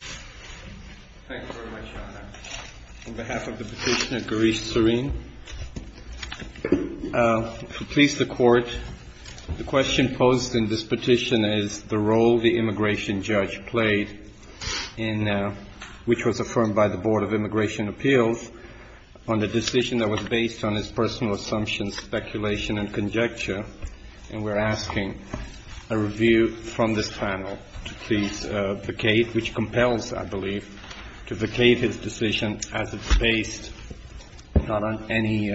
Thank you very much, Your Honor. On behalf of the petitioner, Gaurish Sareen, to please the Court, the question posed in this petition is the role the immigration judge played, which was affirmed by the Board of Immigration Appeals, on the decision that was based on his personal assumptions, speculation, and conjecture. And we're asking a review from this panel to please vacate, which compels, I believe, to vacate his decision as it's based not on any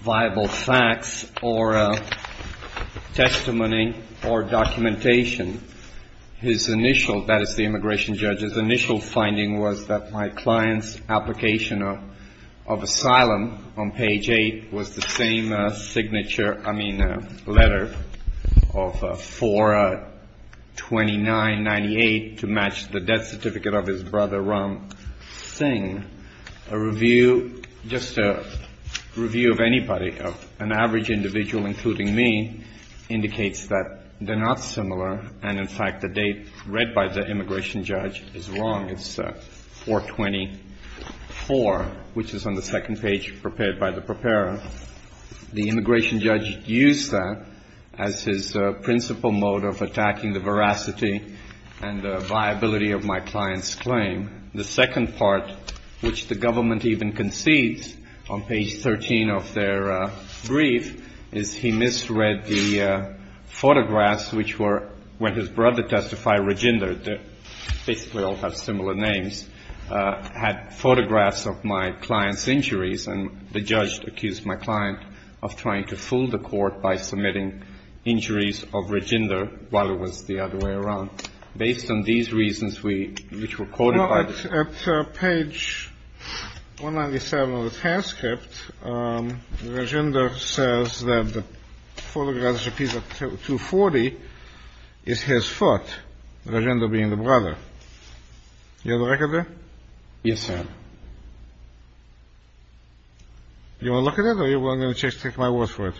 viable facts or testimony or documentation. His initial, that is, the immigration judge's initial finding was that my client's application of asylum on page 8 was the same signature, I mean, letter of 4-29-98 to match the death certificate of his brother Ram Singh. And a review, just a review of anybody, of an average individual, including me, indicates that they're not similar, and, in fact, the date read by the immigration judge is wrong. It's 4-24, which is on the second page prepared by the preparer. The immigration judge used that as his principal motive of attacking the veracity and viability of my client's claim. The second part, which the government even concedes on page 13 of their brief, is he misread the photographs, which were when his brother testified, Rajinder, they basically all have similar names, had photographs of my client's injuries. And the judge accused my client of trying to fool the court by submitting injuries of Rajinder while it was the other way around. Based on these reasons, which were quoted by the judge. On page 197 of the transcript, Rajinder says that the photograph is a piece of 240 is his foot, Rajinder being the brother. Do you have a record there? Yes, sir. Do you want to look at it or do you want me to take my word for it?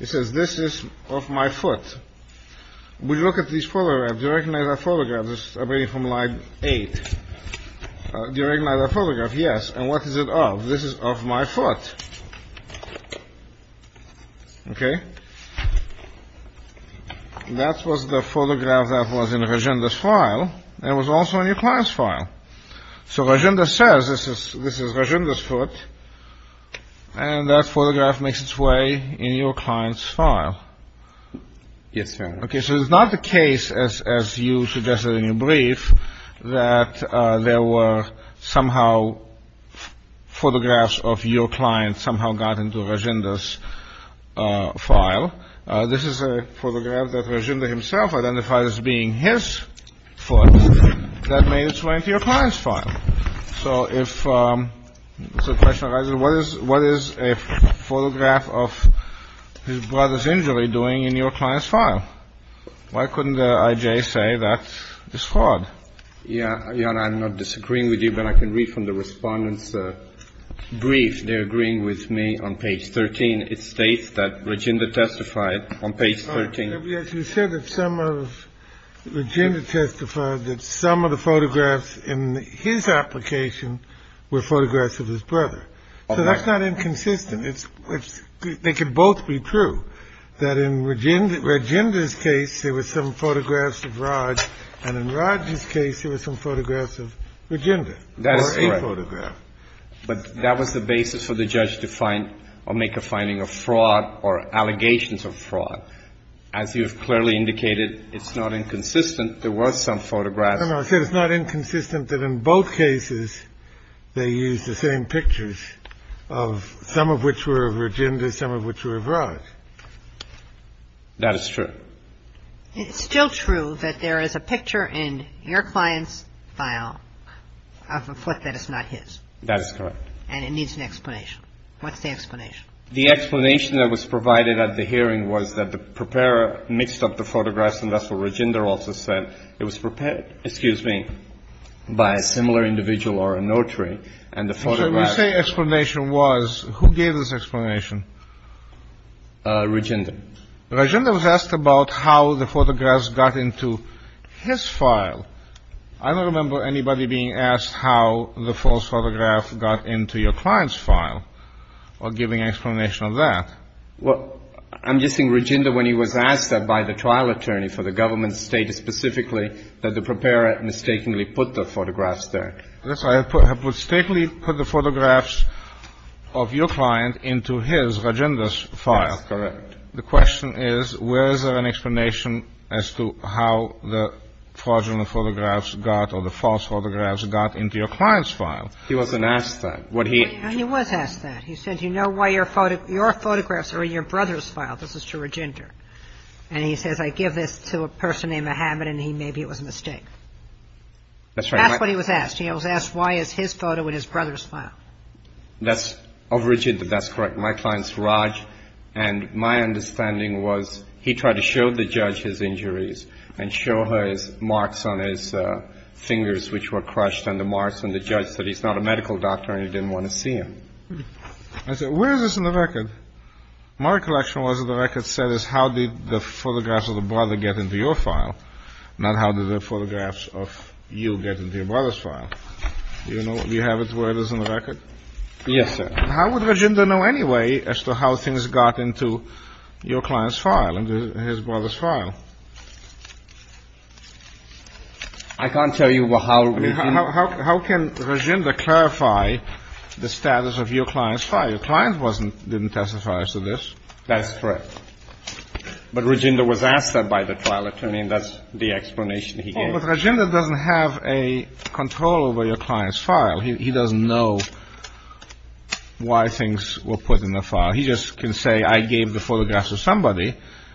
It says this is of my foot. Would you look at these photographs? Do you recognize that photograph? This is from line eight. Do you recognize that photograph? Yes. And what is it of? This is of my foot. Okay. It was also in your client's file. So Rajinder says this is Rajinder's foot. And that photograph makes its way in your client's file. Yes, sir. Okay. So it's not the case, as you suggested in your brief, that there were somehow photographs of your client somehow got into Rajinder's file. This is a photograph that Rajinder himself identified as being his foot that made its way into your client's file. So if the question arises, what is a photograph of his brother's injury doing in your client's file? Why couldn't I.J. say that it's fraud? Jan, I'm not disagreeing with you, but I can read from the Respondent's brief. They're agreeing with me on page 13. It states that Rajinder testified on page 13. You said that some of Rajinder testified that some of the photographs in his application were photographs of his brother. So that's not inconsistent. They can both be true, that in Rajinder's case, there were some photographs of Raj, and in Raj's case, there were some photographs of Rajinder. That's correct. Or a photograph. But that was the basis for the judge to find or make a finding of fraud or allegations of fraud. As you have clearly indicated, it's not inconsistent. There were some photographs. No, no. I said it's not inconsistent that in both cases they used the same pictures of some of which were of Rajinder, some of which were of Raj. That is true. It's still true that there is a picture in your client's file of a foot that is not his. That is correct. And it needs an explanation. What's the explanation? The explanation that was provided at the hearing was that the preparer mixed up the photographs, and that's what Rajinder also said. It was prepared, excuse me, by a similar individual or a notary, and the photographs You say explanation was. Who gave this explanation? Rajinder. Rajinder was asked about how the photographs got into his file. I don't remember anybody being asked how the false photograph got into your client's file or giving an explanation of that. Well, I'm guessing Rajinder, when he was asked that by the trial attorney for the government, stated specifically that the preparer mistakenly put the photographs there. Yes, I have mistakenly put the photographs of your client into his, Rajinder's, file. That's correct. The question is, where is there an explanation as to how the fraudulent photographs got or the false photographs got into your client's file? He wasn't asked that. He was asked that. He said, you know why your photographs are in your brother's file? This is to Rajinder. And he says, I give this to a person named Mohammed, and maybe it was a mistake. That's right. That's what he was asked. He was asked why is his photo in his brother's file. That's, of Rajinder, that's correct. My client's Raj, and my understanding was he tried to show the judge his injuries and show his marks on his fingers, which were crushed, and the marks on the judge said he's not a medical doctor and he didn't want to see him. I said, where is this in the record? My recollection was that the record said how did the photographs of the brother get into your file, not how did the photographs of you get into your brother's file. Do you have it where it is in the record? Yes, sir. How would Rajinder know anyway as to how things got into your client's file, into his brother's file? I can't tell you how. How can Rajinder clarify the status of your client's file? Your client didn't testify as to this. That's correct. But Rajinder was asked that by the trial attorney, and that's the explanation he gave. But Rajinder doesn't have a control over your client's file. He doesn't know why things were put in the file. He just can say I gave the photographs to somebody.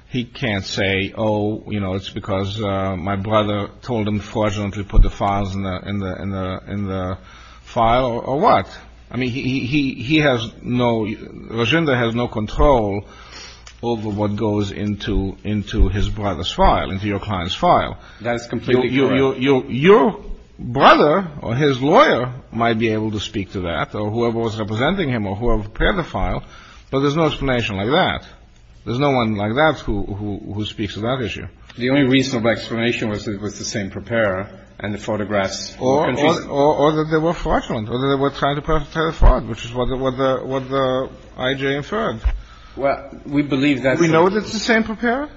He can't say, oh, you know, it's because my brother told him to put the files in the file or what. I mean, he has no, Rajinder has no control over what goes into his brother's file, into your client's file. That is completely correct. Your brother or his lawyer might be able to speak to that or whoever was representing him or whoever prepared the file, but there's no explanation like that. There's no one like that who speaks to that issue. The only reasonable explanation was that it was the same preparer and the photographs. Or that they were fraudulent or that they were trying to perpetrate a fraud, which is what the I.J. inferred. Well, we believe that. Do we know that it's the same preparer?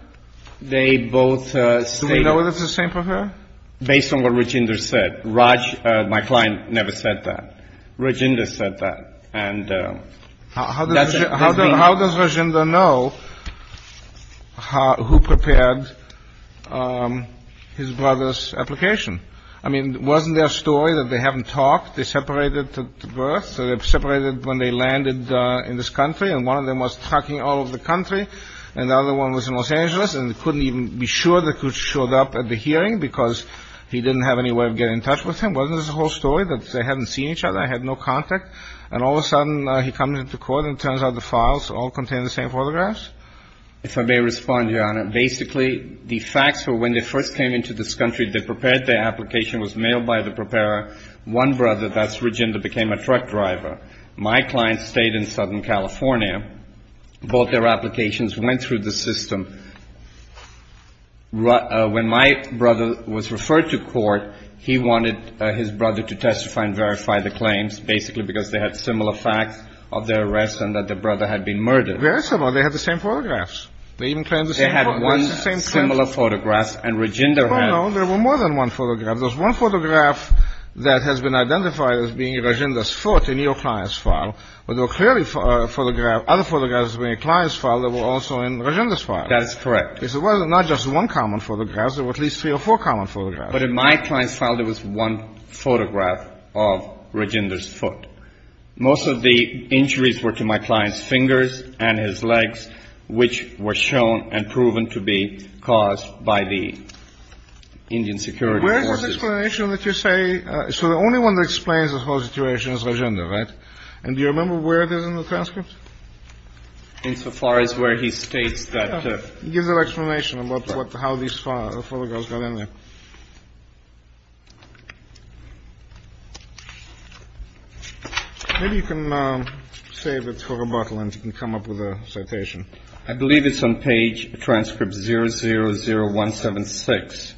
They both stated. Do we know that it's the same preparer? Based on what Rajinder said. Raj, my client, never said that. Rajinder said that. And that's it. How does Rajinder know who prepared his brother's application? I mean, wasn't there a story that they haven't talked, they separated at birth, so they separated when they landed in this country and one of them was tracking all of the country and the other one was in Los Angeles and couldn't even be sure that who showed up at the hearing because he didn't have any way of getting in touch with him? Wasn't there a whole story that they hadn't seen each other, had no contact, and all of a sudden he comes into court and turns out the files all contain the same photographs? If I may respond, Your Honor, basically the facts were when they first came into this country, they prepared their application, was mailed by the preparer. One brother, that's Rajinder, became a truck driver. My client stayed in Southern California. Both their applications went through the system. When my brother was referred to court, he wanted his brother to testify and verify the claims, basically because they had similar facts of their arrest and that their brother had been murdered. Very similar. They had the same photographs. They even claimed the same photographs. They had one similar photograph and Rajinder had one. No, no. There were more than one photograph. There was one photograph that has been identified as being Rajinder's foot in your client's file, but there were clearly other photographs in your client's file that were also in Rajinder's file. That is correct. It was not just one common photograph. There were at least three or four common photographs. But in my client's file, there was one photograph of Rajinder's foot. Most of the injuries were to my client's fingers and his legs, which were shown and proven to be caused by the Indian security forces. Where is the explanation that you say? So the only one that explains the whole situation is Rajinder, right? And do you remember where it is in the transcript? Insofar as where he states that. It gives an explanation about how these photographs got in there. Maybe you can save it for rebuttal and you can come up with a citation. I believe it's on page transcript 000176.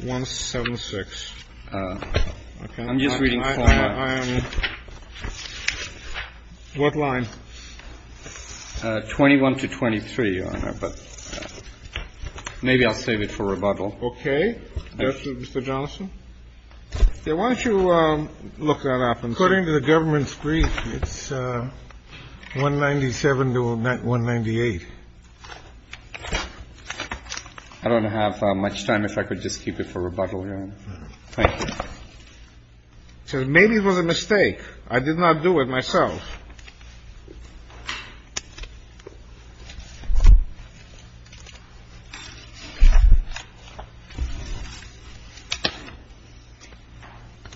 176. I'm just reading. What line? 21 to 23, Your Honor. But maybe I'll save it for rebuttal. Okay. Justice, Mr. Johnson. Why don't you look that up? According to the government's brief, it's 197 to 198. I don't have much time. If I could just keep it for rebuttal, Your Honor. Thank you. Maybe it was a mistake. I did not do it myself.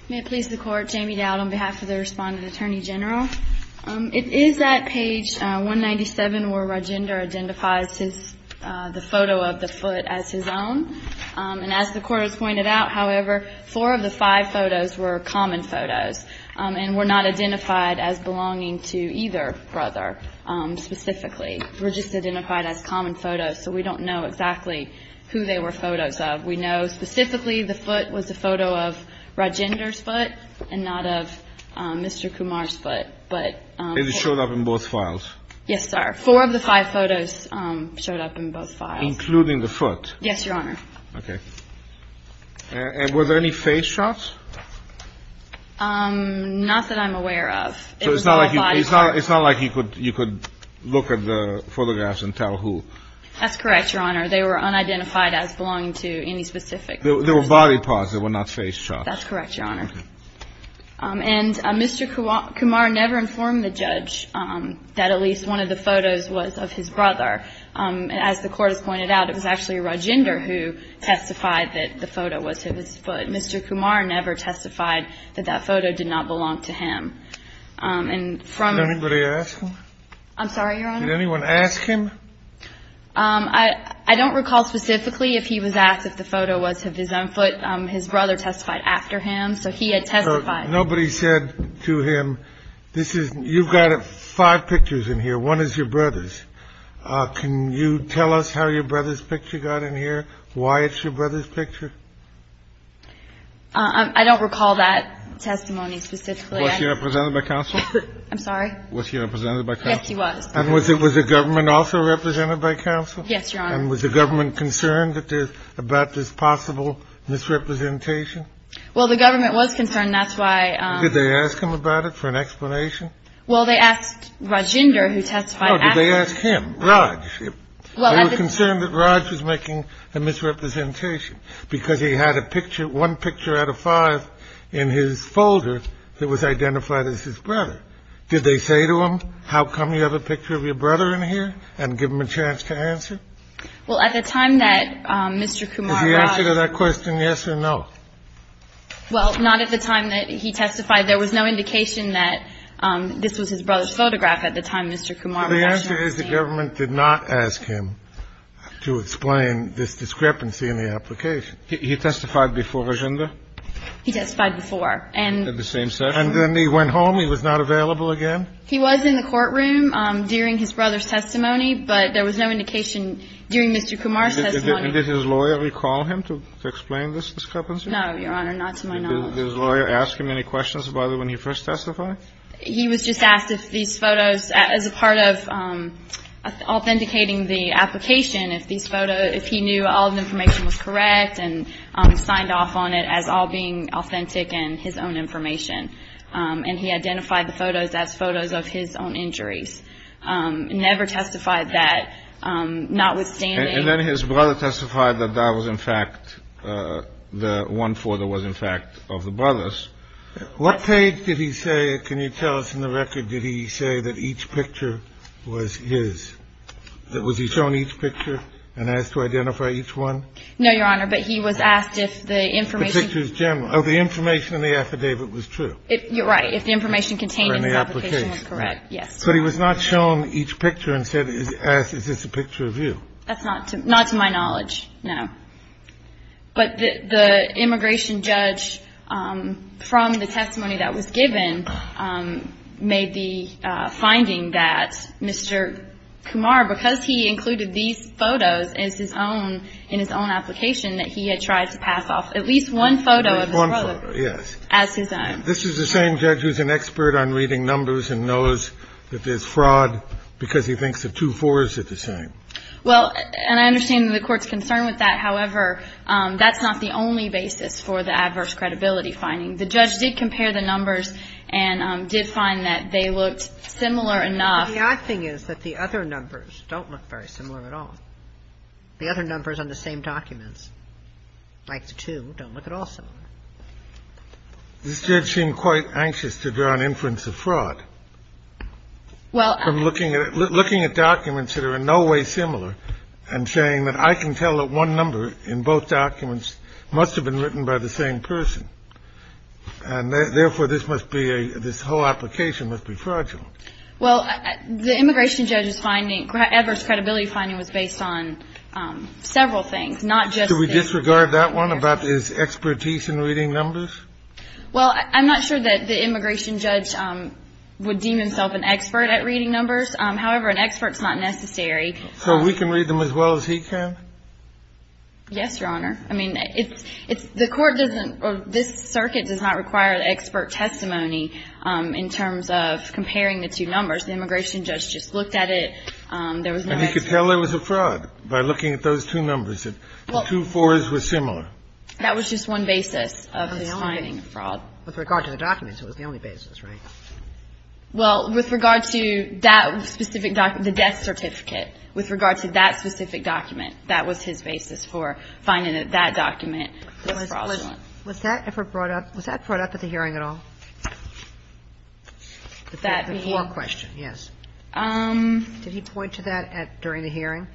May it please the Court. Jamie Dowd on behalf of the Respondent Attorney General. It is at page 197 where Rajinder identifies the photo of the foot as his own. And as the Court has pointed out, however, four of the five photos were common photos and were not identified as belonging to either brother specifically. They were just identified as common photos, so we don't know exactly who they were photos of. We know specifically the foot was a photo of Rajinder's foot and not of Mr. Kumar's foot. And it showed up in both files? Yes, sir. Four of the five photos showed up in both files. Including the foot? Yes, Your Honor. Okay. And were there any face shots? Not that I'm aware of. So it's not like you could look at the photographs and tell who? That's correct, Your Honor. They were unidentified as belonging to any specific person. They were body parts. They were not face shots. That's correct, Your Honor. And Mr. Kumar never informed the judge that at least one of the photos was of his brother. As the Court has pointed out, it was actually Rajinder who testified that the photo was his foot. Mr. Kumar never testified that that photo did not belong to him. Did anybody ask him? I'm sorry, Your Honor? Did anyone ask him? I don't recall specifically if he was asked if the photo was of his own foot. His brother testified after him. So he had testified. Nobody said to him, you've got five pictures in here. One is your brother's. Can you tell us how your brother's picture got in here, why it's your brother's picture? I don't recall that testimony specifically. Was he represented by counsel? I'm sorry? Was he represented by counsel? Yes, he was. And was the government also represented by counsel? Yes, Your Honor. And was the government concerned about this possible misrepresentation? Well, the government was concerned. That's why. Did they ask him about it for an explanation? Well, they asked Rajinder who testified after him. Oh, did they ask him, Raj? They were concerned that Raj was making a misrepresentation because he had a picture, one picture out of five, in his folder that was identified as his brother. Did they say to him, how come you have a picture of your brother in here, and give him a chance to answer? Well, at the time that Mr. Kumar brought up. Did he answer to that question yes or no? Well, not at the time that he testified. There was no indication that this was his brother's photograph at the time Mr. Kumar brought it up. So the answer is the government did not ask him to explain this discrepancy in the application. He testified before Rajinder? He testified before. At the same session? And then he went home. He was not available again? He was in the courtroom during his brother's testimony. But there was no indication during Mr. Kumar's testimony. Did his lawyer recall him to explain this discrepancy? No, Your Honor. Not to my knowledge. Did his lawyer ask him any questions about it when he first testified? He was just asked if these photos, as a part of authenticating the application, if these photos, if he knew all the information was correct and signed off on it as all being authentic and his own information. And he identified the photos as photos of his own injuries. Never testified that, notwithstanding. And then his brother testified that that was, in fact, the one photo was, in fact, of the brother's. What page did he say, can you tell us in the record, did he say that each picture was his? That was he shown each picture and asked to identify each one? No, Your Honor. But he was asked if the information. Oh, the information in the affidavit was true. Right. If the information contained in the application was correct, yes. But he was not shown each picture and said, is this a picture of you? That's not to my knowledge, no. But the immigration judge, from the testimony that was given, made the finding that Mr. Kumar, because he included these photos as his own, in his own application, that he had tried to pass off at least one photo of his brother as his own. This is the same judge who's an expert on reading numbers and knows that there's fraud because he thinks the two fours are the same. Well, and I understand the Court's concern with that. However, that's not the only basis for the adverse credibility finding. The judge did compare the numbers and did find that they looked similar enough. The odd thing is that the other numbers don't look very similar at all, the other numbers on the same documents, like the two, don't look at all similar. This judge seemed quite anxious to draw an inference of fraud from looking at documents that are in no way similar and saying that I can tell that one number in both documents must have been written by the same person, and therefore, this must be a – this whole application must be fragile. Well, the immigration judge's finding, adverse credibility finding, was based on several things, not just the – Do we disregard that one about his expertise in reading numbers? Well, I'm not sure that the immigration judge would deem himself an expert at reading numbers. However, an expert's not necessary. So we can read them as well as he can? Yes, Your Honor. I mean, it's – the Court doesn't – this circuit does not require expert testimony in terms of comparing the two numbers. The immigration judge just looked at it. There was no expert. And he could tell it was a fraud by looking at those two numbers, that the two 4s were similar. That was just one basis of his finding of fraud. With regard to the documents, it was the only basis, right? Well, with regard to that specific – the death certificate, with regard to that specific document, that was his basis for finding that that document was fraudulent. Was that effort brought up – was that brought up at the hearing at all? That being – The poor question, yes. Did he point to that at – during the hearing?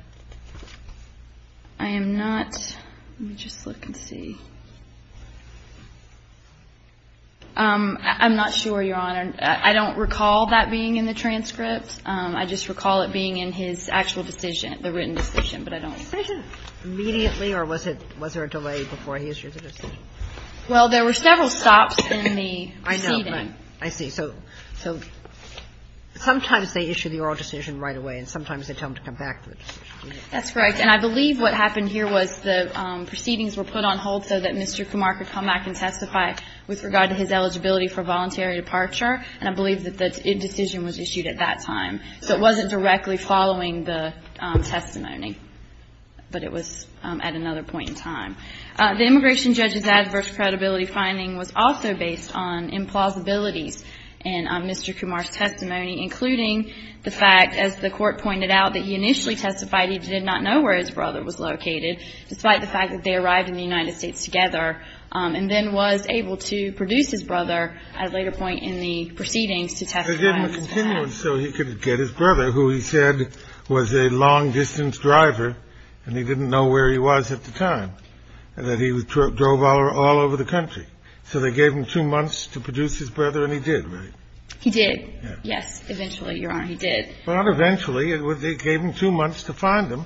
I am not – let me just look and see. I'm not sure, Your Honor. I don't recall that being in the transcript. I just recall it being in his actual decision, the written decision, but I don't – Well, there were several stops in the proceeding. I know, right. I see. So sometimes they issue the oral decision right away, and sometimes they tell him to come back for the decision. That's correct. And I believe what happened here was the proceedings were put on hold so that Mr. Kumar could come back and testify with regard to his eligibility for voluntary departure, and I believe that the decision was issued at that time. So it wasn't directly following the testimony, but it was at another point in time. The immigration judge's adverse credibility finding was also based on implausibilities in Mr. Kumar's testimony, including the fact, as the court pointed out, that he initially testified he did not know where his brother was located, despite the fact that they arrived in the United States together, and then was able to produce his brother at a later point in the proceedings to testify on his behalf. They did him a continuance so he could get his brother, who he said was a long-distance driver, and he didn't know where he was at the time, and that he drove all over the country. So they gave him two months to produce his brother, and he did, right? He did. Yes. Eventually, Your Honor, he did. Well, not eventually. They gave him two months to find him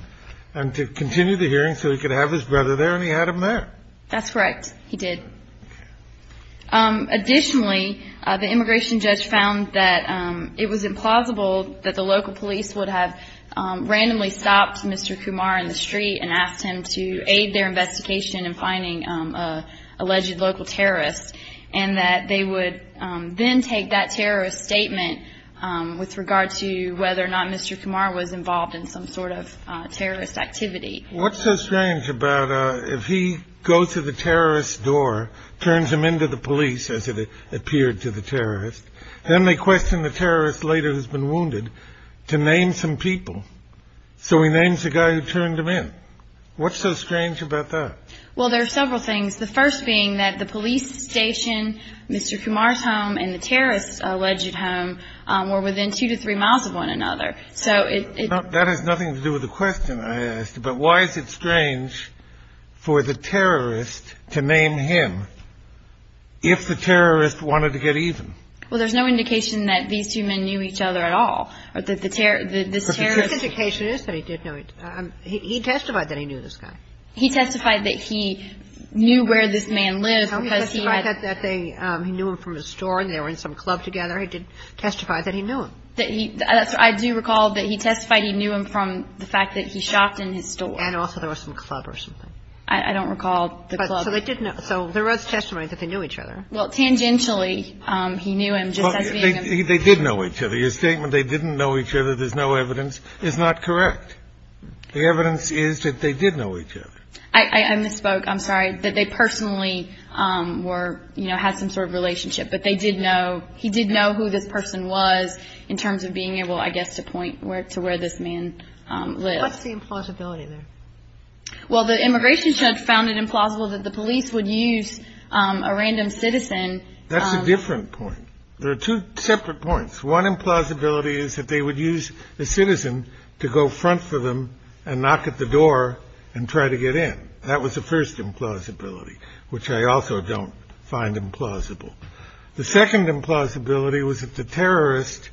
and to continue the hearing so he could have his brother there, and he had him there. That's correct. He did. Additionally, the immigration judge found that it was implausible that the local police department had actually stopped Mr. Kumar in the street and asked him to aid their investigation in finding an alleged local terrorist, and that they would then take that terrorist statement with regard to whether or not Mr. Kumar was involved in some sort of terrorist activity. What's so strange about if he goes to the terrorist's door, turns him into the police, as it appeared to the terrorist, then they question the terrorist later who's been So he names the guy who turned him in. What's so strange about that? Well, there are several things, the first being that the police station, Mr. Kumar's home, and the terrorist's alleged home were within two to three miles of one another. That has nothing to do with the question I asked, but why is it strange for the terrorist to name him if the terrorist wanted to get even? Well, there's no indication that these two men knew each other at all. The terrorist's indication is that he did know each other. He testified that he knew this guy. He testified that he knew where this man lived because he had He testified that he knew him from his store and they were in some club together. He testified that he knew him. I do recall that he testified he knew him from the fact that he shopped in his store. And also there was some club or something. I don't recall the club. So they did know. So there was testimony that they knew each other. Well, tangentially he knew him just as being a They did know each other. Your statement they didn't know each other, there's no evidence, is not correct. The evidence is that they did know each other. I misspoke. I'm sorry. That they personally were, you know, had some sort of relationship. But they did know. He did know who this person was in terms of being able, I guess, to point to where this man lived. What's the implausibility there? Well, the immigration judge found it implausible that the police would use a random citizen. That's a different point. There are two separate points. One implausibility is that they would use a citizen to go front for them and knock at the door and try to get in. That was the first implausibility, which I also don't find implausible. The second implausibility was that the terrorist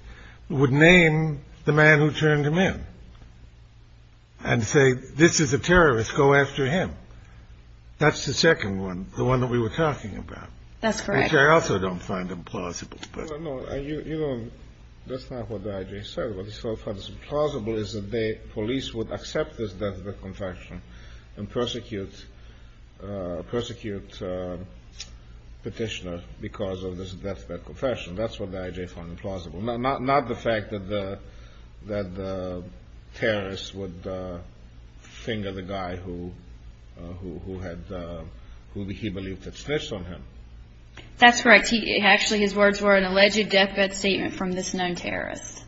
would name the man who turned him in. And say, this is a terrorist, go after him. That's the second one, the one that we were talking about. That's correct. Which I also don't find implausible. You know, that's not what the I.J. said. What he found implausible is that the police would accept this deathbed confession and persecute Petitioner because of this deathbed confession. That's what the I.J. found implausible. Not the fact that the terrorist would finger the guy who he believed had snitched on him. That's correct. Actually, his words were an alleged deathbed statement from this known terrorist.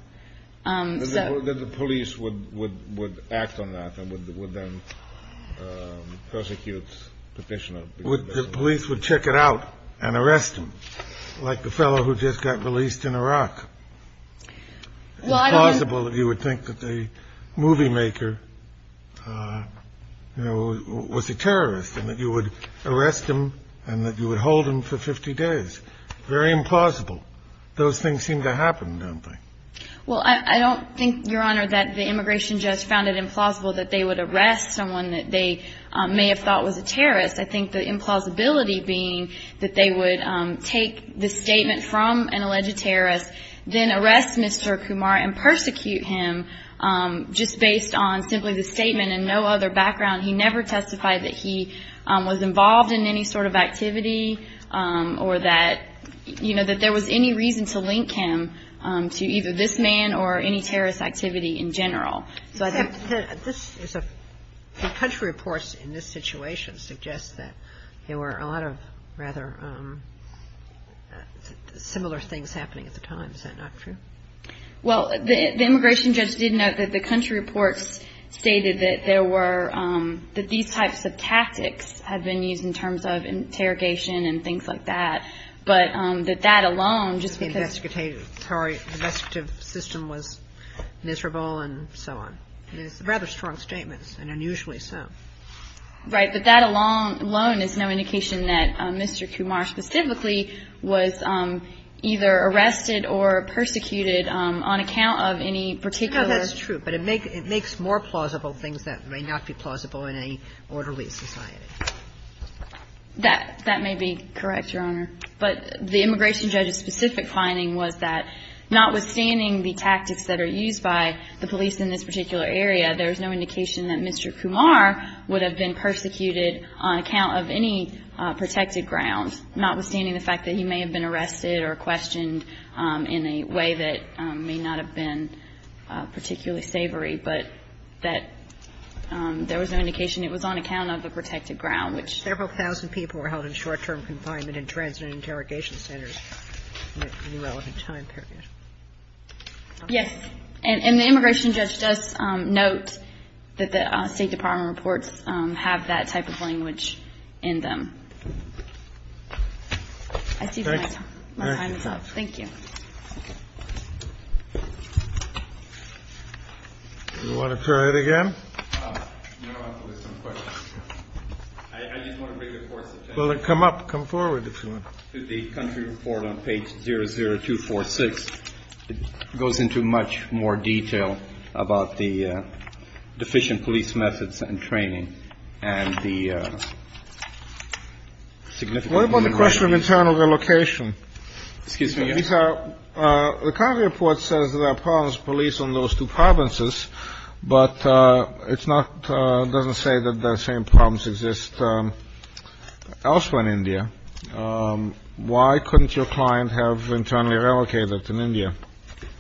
That the police would act on that and would then persecute Petitioner. The police would check it out and arrest him, like the fellow who just got released in Iraq. It's plausible that you would think that the movie maker was a terrorist and that you would arrest him and that you would hold him for 50 days. Very implausible. Those things seem to happen, don't they? Well, I don't think, Your Honor, that the immigration judge found it implausible that they would arrest someone that they may have thought was a terrorist. I think the implausibility being that they would take the statement from an alleged terrorist, then arrest Mr. Kumar and persecute him just based on simply the statement and no other background. He never testified that he was involved in any sort of activity or that, you know, that there was any reason to link him to either this man or any terrorist activity in general. The country reports in this situation suggest that there were a lot of rather similar things happening at the time. Is that not true? Well, the immigration judge did note that the country reports stated that there were – that these types of tactics had been used in terms of interrogation and things like that, but that that alone, just because – Sorry. The investigative system was miserable and so on. It's rather strong statements and unusually so. Right. But that alone is no indication that Mr. Kumar specifically was either arrested or persecuted on account of any particular – No, that's true. But it makes more plausible things that may not be plausible in an orderly society. That may be correct, Your Honor. But the immigration judge's specific finding was that notwithstanding the tactics that are used by the police in this particular area, there's no indication that Mr. Kumar was persecuted on account of any protected grounds, notwithstanding the fact that he may have been arrested or questioned in a way that may not have been particularly savory, but that there was no indication it was on account of a protected ground, which – Several thousand people were held in short-term confinement in transit interrogation centers in a relevant time period. Yes. And the immigration judge does note that the State Department reports have that type of language in them. I see my time is up. Thank you. Do you want to try that again? No, I have some questions. I just want to bring the court's attention – Well, come up. Come forward if you want. The country report on page 00246 goes into much more detail about the deficient police methods and training and the significant – What about the question of internal relocation? Excuse me, Your Honor. The country report says there are problems with police in those two provinces, but it doesn't say that the same problems exist elsewhere in India. Why couldn't your client have internally relocated in India?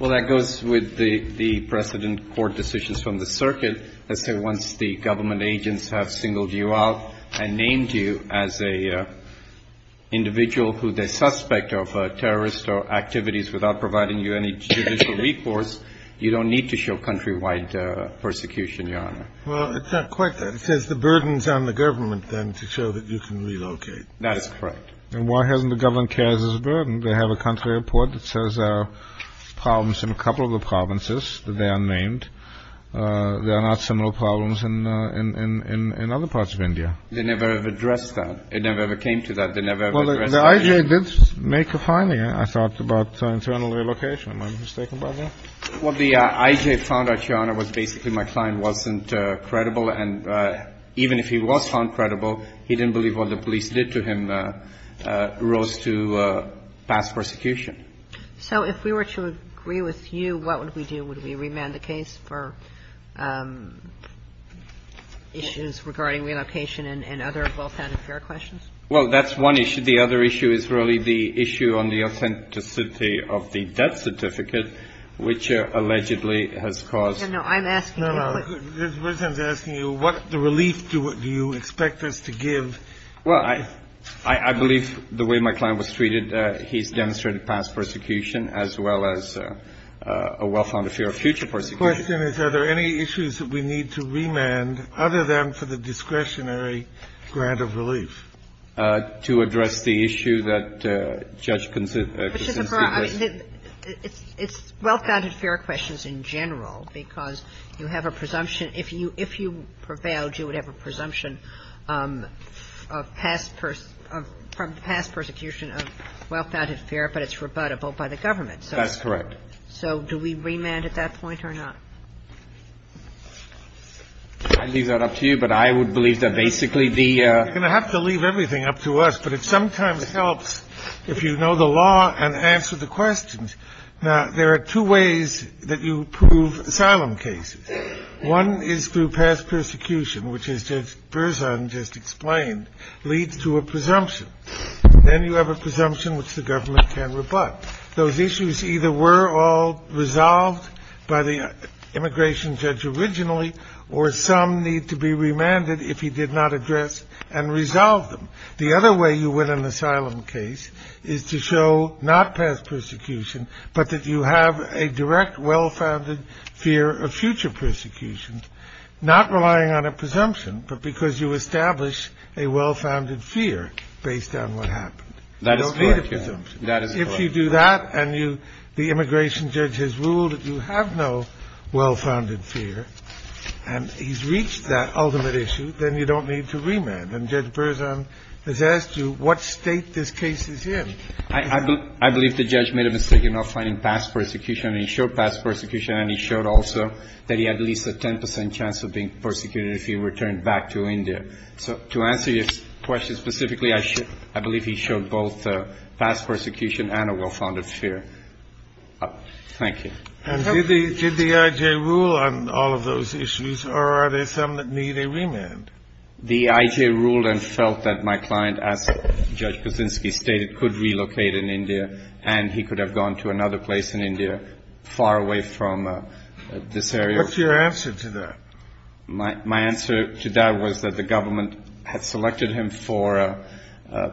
Well, that goes with the precedent court decisions from the circuit. Let's say once the government agents have singled you out and named you as an individual who they suspect of terrorist activities without providing you any judicial recourse, you don't need to show countrywide persecution, Your Honor. Well, it's not quite that. It says the burden is on the government, then, to show that you can relocate. That's correct. And why hasn't the government carried this burden? They have a country report that says there are problems in a couple of the provinces, that they are named. There are not similar problems in other parts of India. They never have addressed that. It never ever came to that. They never ever addressed that. Well, the IJA did make a finding, I thought, about internal relocation. Am I mistaken about that? Well, the IJA found out, Your Honor, was basically my client wasn't credible. And even if he was found credible, he didn't believe what the police did to him rose to past persecution. So if we were to agree with you, what would we do? Would we remand the case for issues regarding relocation and other wealth and affair questions? Well, that's one issue. The other issue is really the issue on the authenticity of the death certificate, which allegedly has caused no, no. I'm asking you what the relief do you expect us to give? Well, I believe the way my client was treated, he's demonstrated past persecution as well as a wealth and affair future persecution. The question is, are there any issues that we need to remand other than for the discretionary grant of relief? To address the issue that Judge Kuczynski raised. It's wealth and affair questions in general, because you have a presumption If you prevailed, you would have a presumption of past persecution of wealth and affair, but it's rebuttable by the government. That's correct. So do we remand at that point or not? I leave that up to you, but I would believe that basically the... You're going to have to leave everything up to us, but it sometimes helps if you know the law and answer the questions. Now, there are two ways that you prove asylum cases. One is through past persecution, which is Judge Berzon just explained, leads to a presumption. Then you have a presumption which the government can rebut. Those issues either were all resolved by the immigration judge originally, or some need to be remanded if he did not address and resolve them. The other way you win an asylum case is to show not past persecution, but that you have a direct well-founded fear of future persecution, not relying on a presumption, but because you establish a well-founded fear based on what happened. That is correct. If you do that and the immigration judge has ruled that you have no well-founded fear, and he's reached that ultimate issue, then you don't need to remand. And Judge Berzon has asked you what state this case is in. I believe the judge made a mistake in not finding past persecution, and he showed past persecution, and he showed also that he had at least a 10 percent chance of being persecuted if he returned back to India. So to answer your question specifically, I believe he showed both past persecution and a well-founded fear. Thank you. And did the IJ rule on all of those issues, or are there some that need a remand? The IJ ruled and felt that my client, as Judge Kuczynski stated, could relocate in India, and he could have gone to another place in India far away from this area. What's your answer to that? My answer to that was that the government had selected him for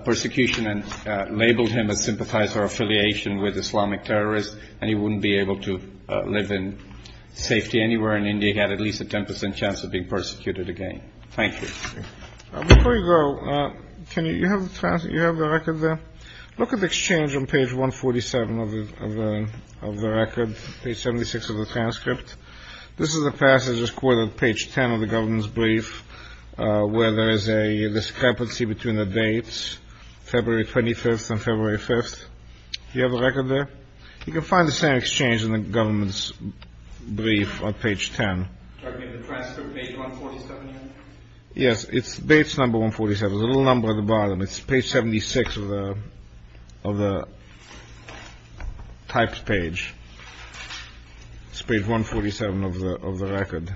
persecution and labeled him a sympathizer or affiliation with Islamic terrorists, and he wouldn't be able to live in safety anywhere in India. He had at least a 10 percent chance of being persecuted again. Thank you. Before you go, you have the record there? Look at the exchange on page 147 of the record, page 76 of the transcript. This is a passage that's quoted on page 10 of the government's brief, where there is a discrepancy between the dates, February 25th and February 5th. Do you have the record there? You can find the same exchange in the government's brief on page 10. Are you talking about the transcript, page 147 here? Yes, it's dates number 147. There's a little number at the bottom. It's page 76 of the typed page. It's page 147 of the record.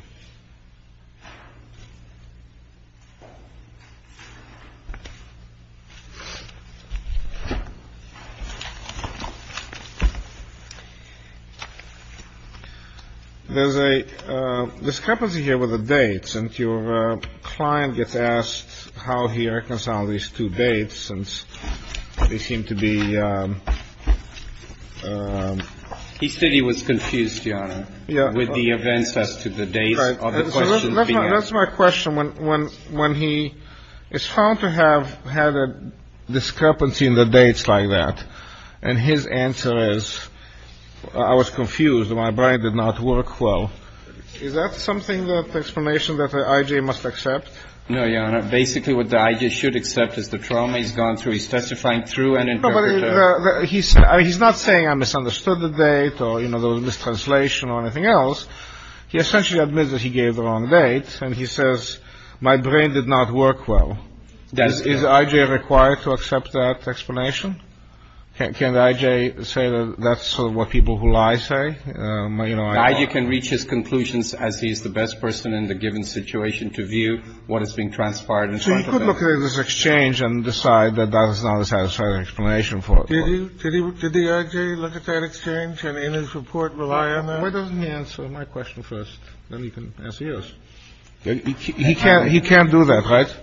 There's a discrepancy here with the dates. Your client gets asked how he reconciled these two dates, and they seem to be ‑‑ He said he was confused, Your Honor, with the events as to the dates of the questions being asked. That's my question. When he is found to have had a discrepancy in the dates like that, and his answer is, I was confused, my brain did not work well. Is that something that explanation that the I.J. must accept? No, Your Honor. Basically, what the I.J. should accept is the trauma he's gone through. He's testifying through an interpreter. No, but he's not saying I misunderstood the date or, you know, there was mistranslation or anything else. He essentially admits that he gave the wrong date, and he says, my brain did not work well. Is the I.J. required to accept that explanation? Can the I.J. say that that's what people who lie say? The I.J. can reach his conclusions as he is the best person in the given situation to view what is being transferred. So he could look at this exchange and decide that that is not a satisfactory explanation for it. Did the I.J. look at that exchange and, in his report, rely on that? Why doesn't he answer my question first? Then he can ask yours. He can't do that, right?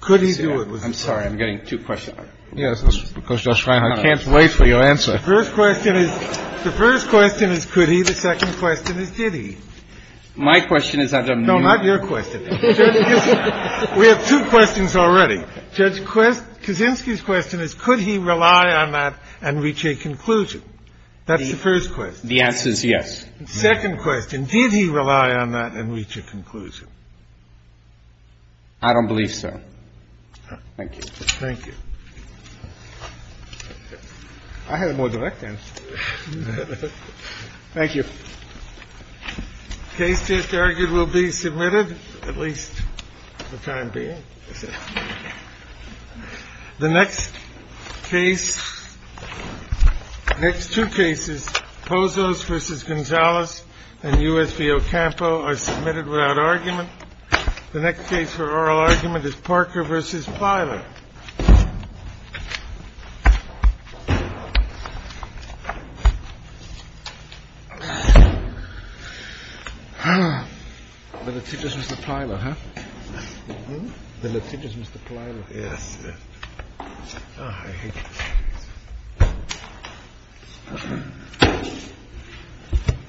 Could he do it? I'm sorry. I'm getting two questions. Yes. I can't wait for your answer. The first question is, the first question is, could he? The second question is, did he? My question is, I don't know. No, not your question. We have two questions already. Judge Kaczynski's question is, could he rely on that and reach a conclusion? That's the first question. The answer is yes. Second question, did he rely on that and reach a conclusion? I don't believe so. Thank you. Thank you. I had a more direct answer to that. Thank you. The case just argued will be submitted, at least for the time being. The next case, next two cases, Pozos v. Gonzalez and U.S. v. Ocampo are submitted without argument. The next case for oral argument is Parker v. Filer. The litigious Mr. Filer, huh? The litigious Mr. Filer. Yes. Yes. I hate you.